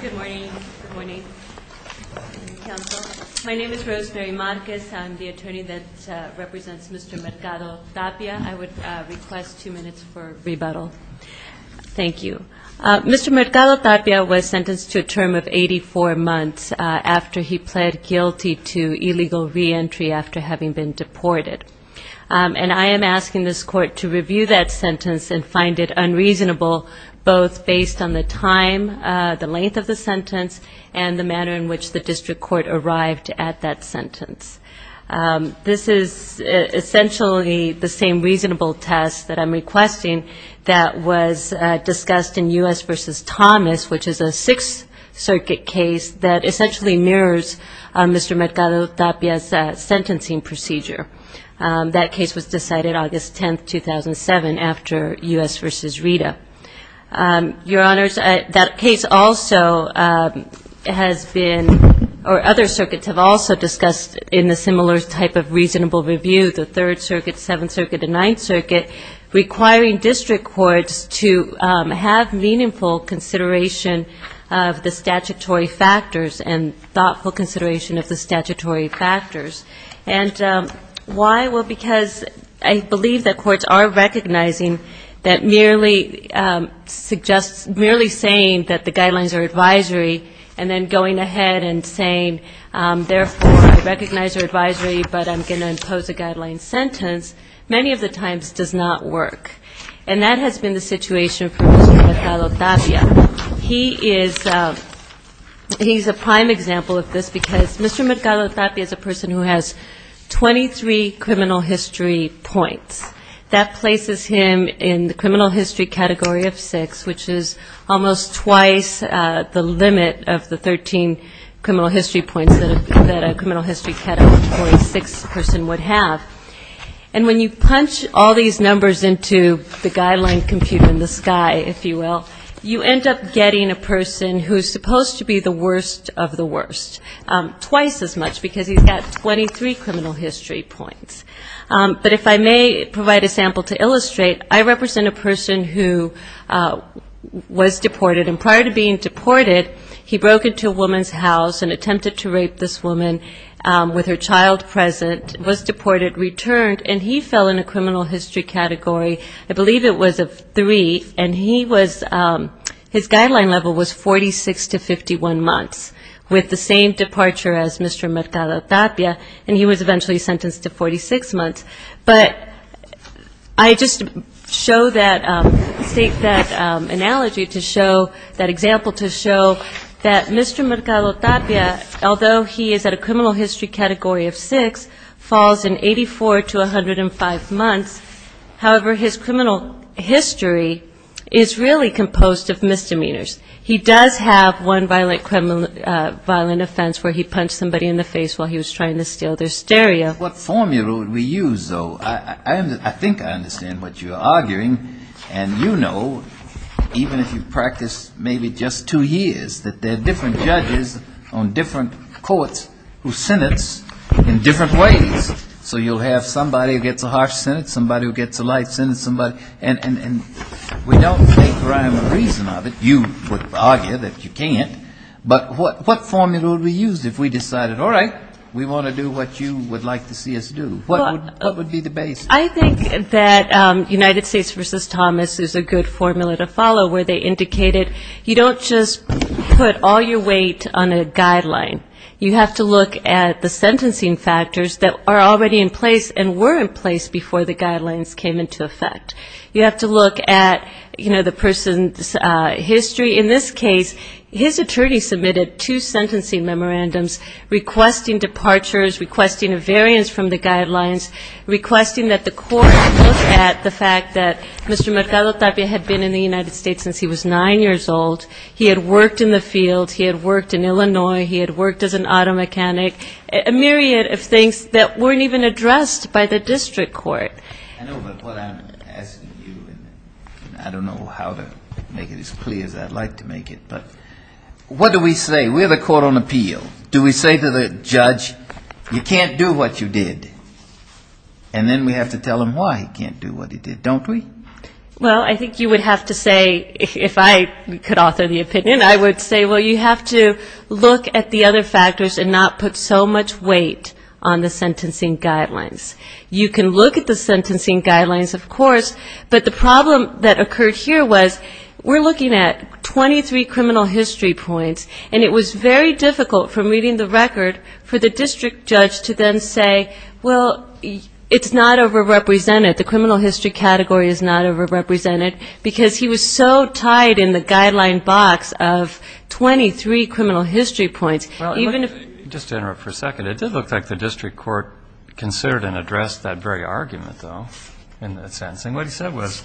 Good morning. My name is Rosemary Marquez. I'm the attorney that represents Mr. Mercado-Tapia. I would request two minutes for rebuttal. Thank you. Mr. Mercado-Tapia was sentenced to a term of 84 months after he pled guilty to illegal reentry after having been deported. And I am asking this court to review that sentence and find it unreasonable both based on the time, the length of the sentence and the manner in which the district court arrived at that sentence. This is essentially the same reasonable test that I'm requesting that was discussed in U.S. v. Thomas, which is a Sixth Circuit case that essentially mirrors Mr. Mercado-Tapia's sentencing procedure. That case was decided August 10, 2007, after U.S. v. Rita. Your Honors, that case also has been or other circuits have also discussed in the similar type of reasonable review, the Third Circuit, Seventh Circuit and Ninth Circuit, requiring district courts to have meaningful consideration of the statutory factors and thoughtful consideration of the statutory factors. And why? Well, because I believe that courts are recognizing that merely suggests, merely saying that the guidelines are advisory and then going ahead and saying, therefore, I recognize your advisory, but I'm going to impose a guideline sentence, many of the times does not work. And that has been the situation for Mr. Mercado-Tapia. He is a prime example of this because Mr. Mercado-Tapia is a person who has 23 criminal history points. That places him in the criminal history category of six, which is almost twice the limit of the 13 criminal history points that a criminal history category six person would have. And when you punch all these numbers into the guideline computer in the sky, if you will, you end up getting a person who is supposed to be the worst of the worst, twice as much, because he's got 23 criminal history points. But if I may provide a sample to illustrate, I represent a person who was deported, and prior to being deported, he broke into a woman's house and attempted to rape this woman with her child present, was deported, returned, and he fell in a criminal history category, I believe it was of three, and he was his guideline level was 46 to 51 months, with the same departure as Mr. Mercado-Tapia, and he was eventually sentenced to 46 months. But I just show that, state that analogy to show, that example to show that Mr. Mercado-Tapia, although he is at a criminal history category of six, falls in 84 to 105 months, however, his criminal history is really composed of misdemeanors. He does have one violent offense where he punched somebody in the face while he was trying to steal their stereo. Now, what formula would we use, though? I think I understand what you're arguing, and you know, even if you've practiced maybe just two years, that there are different judges on different courts who sentence in different ways, so you'll have somebody who gets a harsh sentence, somebody who gets a life sentence, somebody, and we don't make rhyme or reason of it. You would argue that you can't, but what formula would we use if we decided, all right, we want to do what you would like to see us do? What would be the base? I think that United States v. Thomas is a good formula to follow, where they indicated you don't just put all your weight on a guideline. You have to look at the sentencing factors that are already in place and were in place before the guidelines came into effect. You have to look at, you know, the person's history. In this case, his attorney submitted two sentencing memorandums requesting departures, requesting a variance from the guidelines, requesting that the court look at the fact that Mr. Mercado-Tapia had been in the United States since he was nine years old, he had worked in the field, he had worked in Illinois, he had worked as an auto mechanic, a myriad of things that weren't even addressed by the district court. I know, but what I'm asking you, and I don't know how to make it as clear as I'd like to make it, but what do we say? We're the court on appeal. Do we say to the judge, you can't do what you did? And then we have to tell him why he can't do what he did, don't we? Well, I think you would have to say, if I could author the opinion, I would say, well, you have to look at the other factors and not put so much weight on the sentencing guidelines. You can look at the sentencing guidelines, of course, but the problem that occurred here was we're looking at 23 criminal history points, and it was very difficult from reading the record for the district judge to then say, well, it's not overrepresented. The criminal history category is not overrepresented, because he was so tied in the guideline box of 23 criminal history points, even if he didn't. Just to interrupt for a second, it did look like the district court considered and addressed that very argument, though, in that sentencing. What he said was,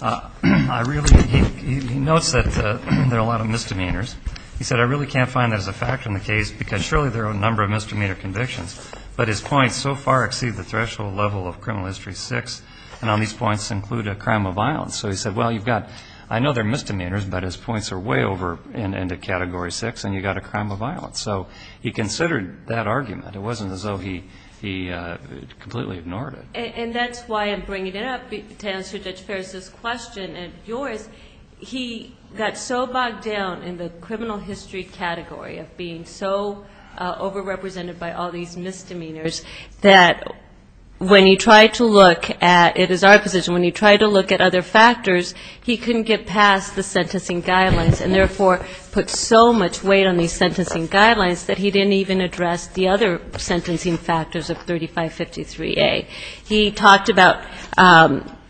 I really think he notes that there are a lot of misdemeanors. He said, I really can't find that as a factor in the case, because surely there are a number of misdemeanor convictions, but his points so far exceed the threshold level of criminal history six. And all these points include a crime of violence. So he said, well, you've got, I know there are misdemeanors, but his points are way over into category six, and you've got a crime of violence. So he considered that argument. It wasn't as though he completely ignored it. And that's why I'm bringing it up to answer Judge Ferris' question and yours. He got so bogged down in the criminal history category of being so overrepresented by all these misdemeanors that when you try to look at the criminal history category, you can't do that. It is our position, when you try to look at other factors, he couldn't get past the sentencing guidelines, and therefore put so much weight on these sentencing guidelines that he didn't even address the other sentencing factors of 3553A. He talked about,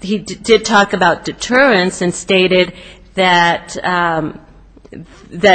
he did talk about deterrence and stated that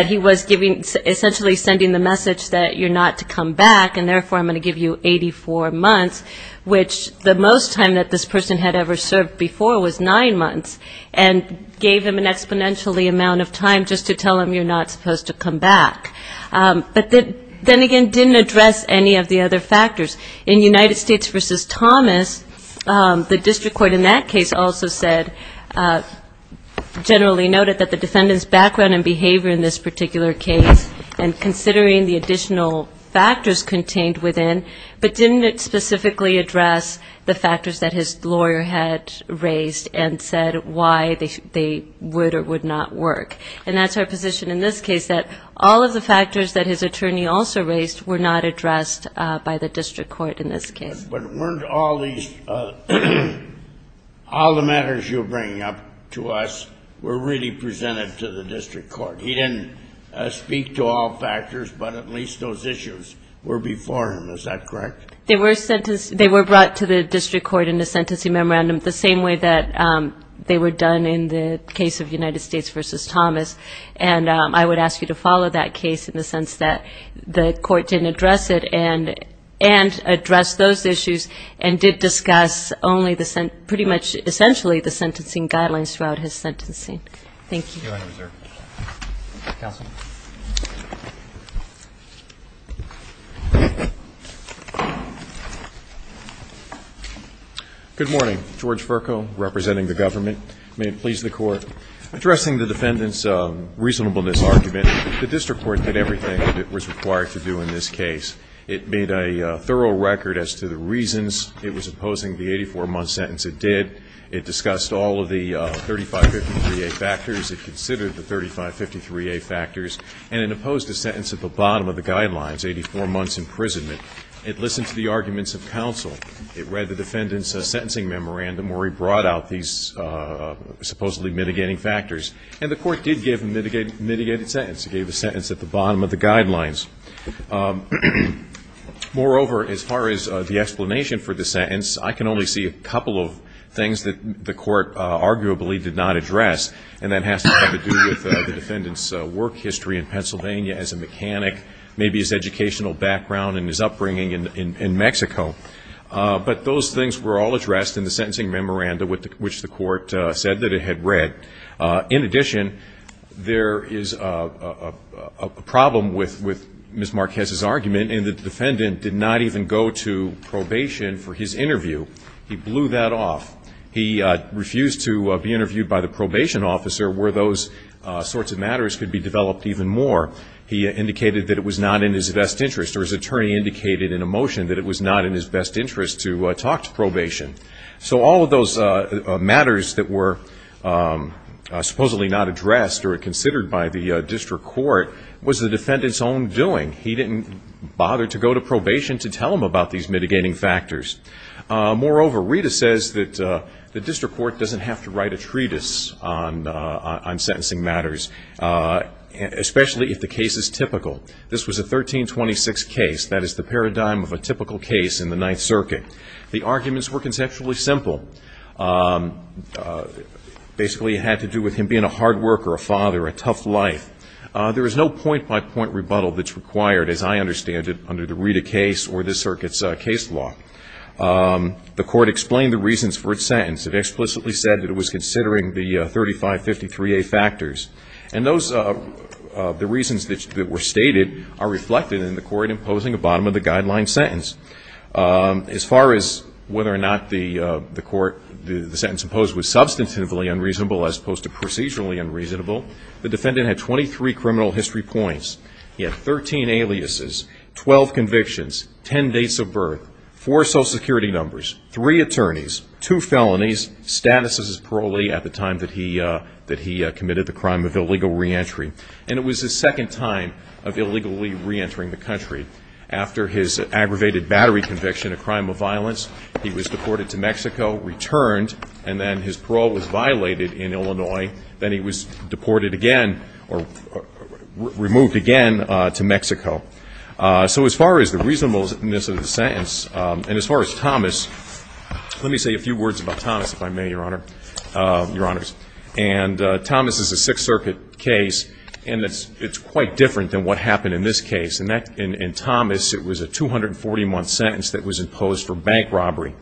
he was giving, essentially sending the message that you're not to come back, and therefore I'm going to give you 84 months, which the most time that this person had to come back, he had to come back. And the most time that this person had ever served before was nine months, and gave him an exponentially amount of time just to tell him you're not supposed to come back. But then again, didn't address any of the other factors. In United States v. Thomas, the district court in that case also said, generally noted that the defendant's background and behavior in this particular case, and considering the additional factors contained within, but didn't specifically address the factors that his lawyer had. Raised and said why they would or would not work. And that's our position in this case, that all of the factors that his attorney also raised were not addressed by the district court in this case. But weren't all these, all the matters you're bringing up to us were really presented to the district court. He didn't speak to all factors, but at least those issues were before him. Is that correct? They were sentenced, they were brought to the district court in a sentencing memorandum the same way that they were done in the case of United States v. Thomas. And I would ask you to follow that case in the sense that the court didn't address it, and addressed those issues, and did discuss only the, pretty much essentially the sentencing guidelines throughout his sentencing. Thank you. Good morning. George Virco, representing the government. May it please the court. Addressing the defendant's reasonableness argument, the district court did everything that it was required to do in this case. It made a thorough record as to the reasons it was opposing the 84-month sentence it did. It discussed all of the 3553A factors. It considered the 3553A factors. And it opposed a sentence at the bottom of the guidelines, 84 months imprisonment. It listened to the arguments of counsel. It read the defendant's sentencing memorandum where he brought out these supposedly mitigating factors. And the court did give a mitigated sentence. It gave a sentence at the bottom of the guidelines. Moreover, as far as the explanation for the sentence, I can only see a couple of things that the court arguably did not address. And that has to have to do with the defendant's work history in Pennsylvania as a mechanic, maybe his educational background and his upbringing. And the court did give a mitigated sentence. And that was the case that the defendant was bringing in Mexico. But those things were all addressed in the sentencing memorandum, which the court said that it had read. In addition, there is a problem with Ms. Marquez's argument in that the defendant did not even go to probation for his interview. He blew that off. He refused to be interviewed by the probation officer where those sorts of matters could be developed even more. He indicated that it was not in his best interest. Or his attorney indicated that it was not in his best interest. And that was the case. All of those matters that were supposedly not addressed that were considered by the district court was the defendants own doing. He didn't bother to go to probation to tell them about these mitigating factors. Moreover, Rita says that the district court doesn't have to write a treatise on sentencing matters, especially if the case is typical. This was a 1326 case. That is the paradigm of the state. And Rita's argument, and that's why it was the case that the defendant did not have to go to probation. It was the paradigm of a typical case in the Ninth Circuit. The arguments were conceptually simple. Basically, it had to do with him being a hard worker, a father, a tough life. There is no point-by-point rebuttal that's required, as I understand it, under the Rita case or this circuit's case law. The court explained the reasons for its sentence. It explicitly said that it was considering the 3553A factors. And the reasons that were stated are reflected in the court imposing a bottom-of-the-guideline sentence. As far as whether or not the sentence imposed was substantively unreasonable as opposed to procedurally unreasonable, the defendant had 23 criminal history points. He had 13 aliases, 12 convictions, 10 dates of birth, 4 Social Security numbers, 3 attorneys, 2 felonies, status as parolee at the time that he committed the crime of illegal reentry. And it was his second time of illegally reentering the country. After his aggravated battery conviction, a crime of violence, he was deported to Mexico, returned, and then his parole was violated in Illinois. Then he was deported again or removed again to Mexico. So as far as the reasonableness of the sentence, and as far as Thomas, let me say a few words about Thomas, if I may, Your Honor, Your Honors. And Thomas is a Sixth Circuit case, and it's quite different than what happened in this case. In Thomas, it was a 240-month sentence that was imposed for bank robbery.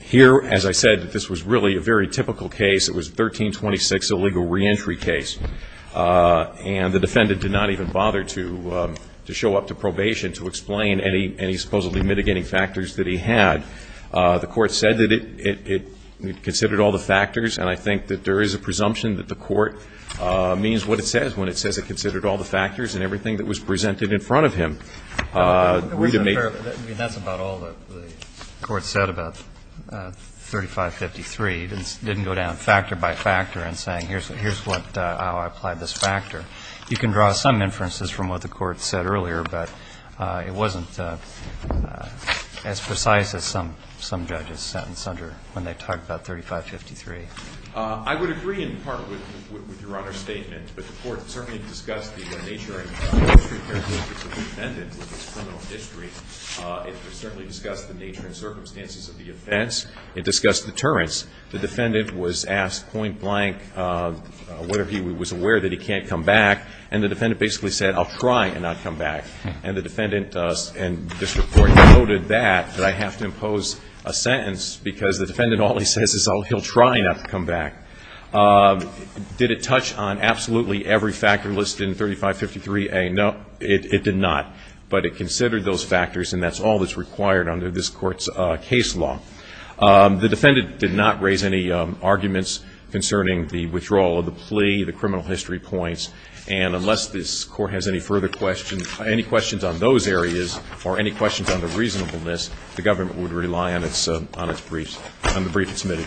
Here, as I said, this was really a very typical case. It was 1326, a legal reentry case. And the defendant did not even bother to show up to probation to explain any supposedly mitigating factors that he had. The Court said that it considered all the factors, and I think that there is a presumption that the Court means what it says when it says it considered all the factors and everything that was presented in front of him. I think it wasn't fair. I mean, that's about all the Court said about 3553. It didn't go down factor by factor in saying, here's how I applied this factor. You can draw some inferences from what the Court said earlier, but it wasn't as precise as some judges sentence under when they talk about 3553. I would agree in part with Your Honor's statement, but the Court certainly discussed the nature and characteristics of the defendant with its criminal history. It certainly discussed the nature and circumstances of the offense. It discussed deterrence. The defendant was asked point blank whether he was aware that he can't come back, and the defendant basically said, I'll try and not come back. And the defendant and district court noted that, that I have to impose a sentence because the defendant only says he'll try not to come back. Did it touch on absolutely every factor listed in 3553A? No, it did not. But it considered those factors, and that's all that's required under this Court's case law. The defendant did not raise any arguments concerning the withdrawal of the plea, the criminal history points, and unless this Court has any further questions, any questions on those areas or any questions on the reasonableness, the government would rely on its briefs, on the brief it submitted.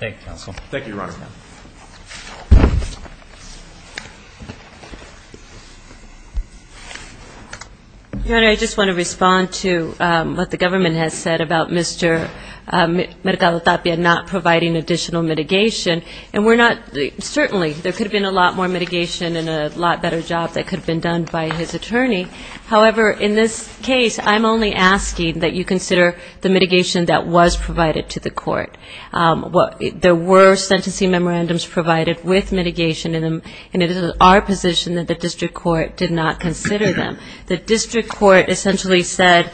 Thank you, counsel. Your Honor, I just want to respond to what the government has said about Mr. Mercado-Tapia not providing additional mitigation. And we're not, certainly, there could have been a lot more mitigation and a lot better job that could have been done by his attorney. However, in this case, I'm only asking that you consider the mitigation that was provided to the court. There were sentencing memorandums provided with mitigation, and it is our position that the district court did not consider them. The district court essentially said,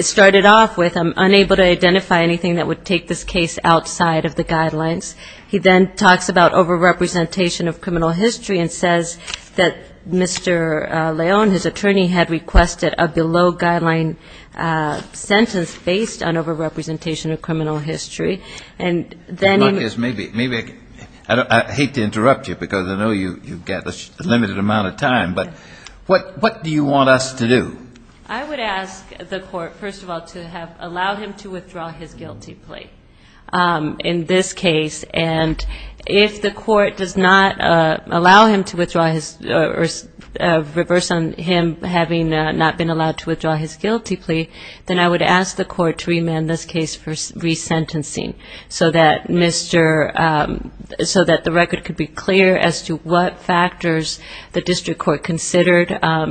started off with, I'm unable to identify anything that would take this case outside of the guidelines. He then talks about over-representation of criminal history and says that Mr. Leone, his attorney, had requested a below-guideline sentence based on over-representation of criminal history. And then he... If not, yes, maybe. I hate to interrupt you because I know you've got a limited amount of time. But what do you want us to do? I would ask the court, first of all, to allow him to withdraw his guilty plea in this case. And if the court does not allow him to withdraw his, or reverse on him having not been allowed to withdraw his guilty plea, then I would ask the court to remand this case for resentencing so that Mr. So that the record could be clear as to what factors the district court considered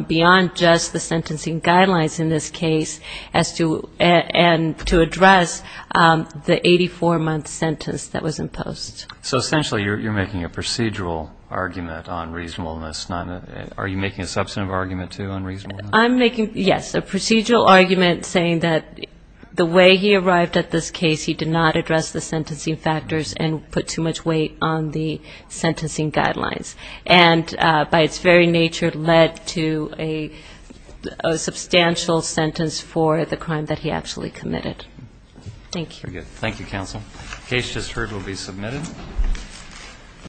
beyond just the sentencing guidelines in this case and to address the 84-month sentence that was imposed. So essentially you're making a procedural argument on reasonableness. Are you making a substantive argument, too, on reasonableness? I'm making, yes, a procedural argument saying that the way he arrived at this case, he did not address the sentencing factors and put too much weight on the sentencing guidelines. And by its very nature led to a substantial sentence for the crime that he actually committed. Thank you. Thank you, counsel. The case just heard will be submitted.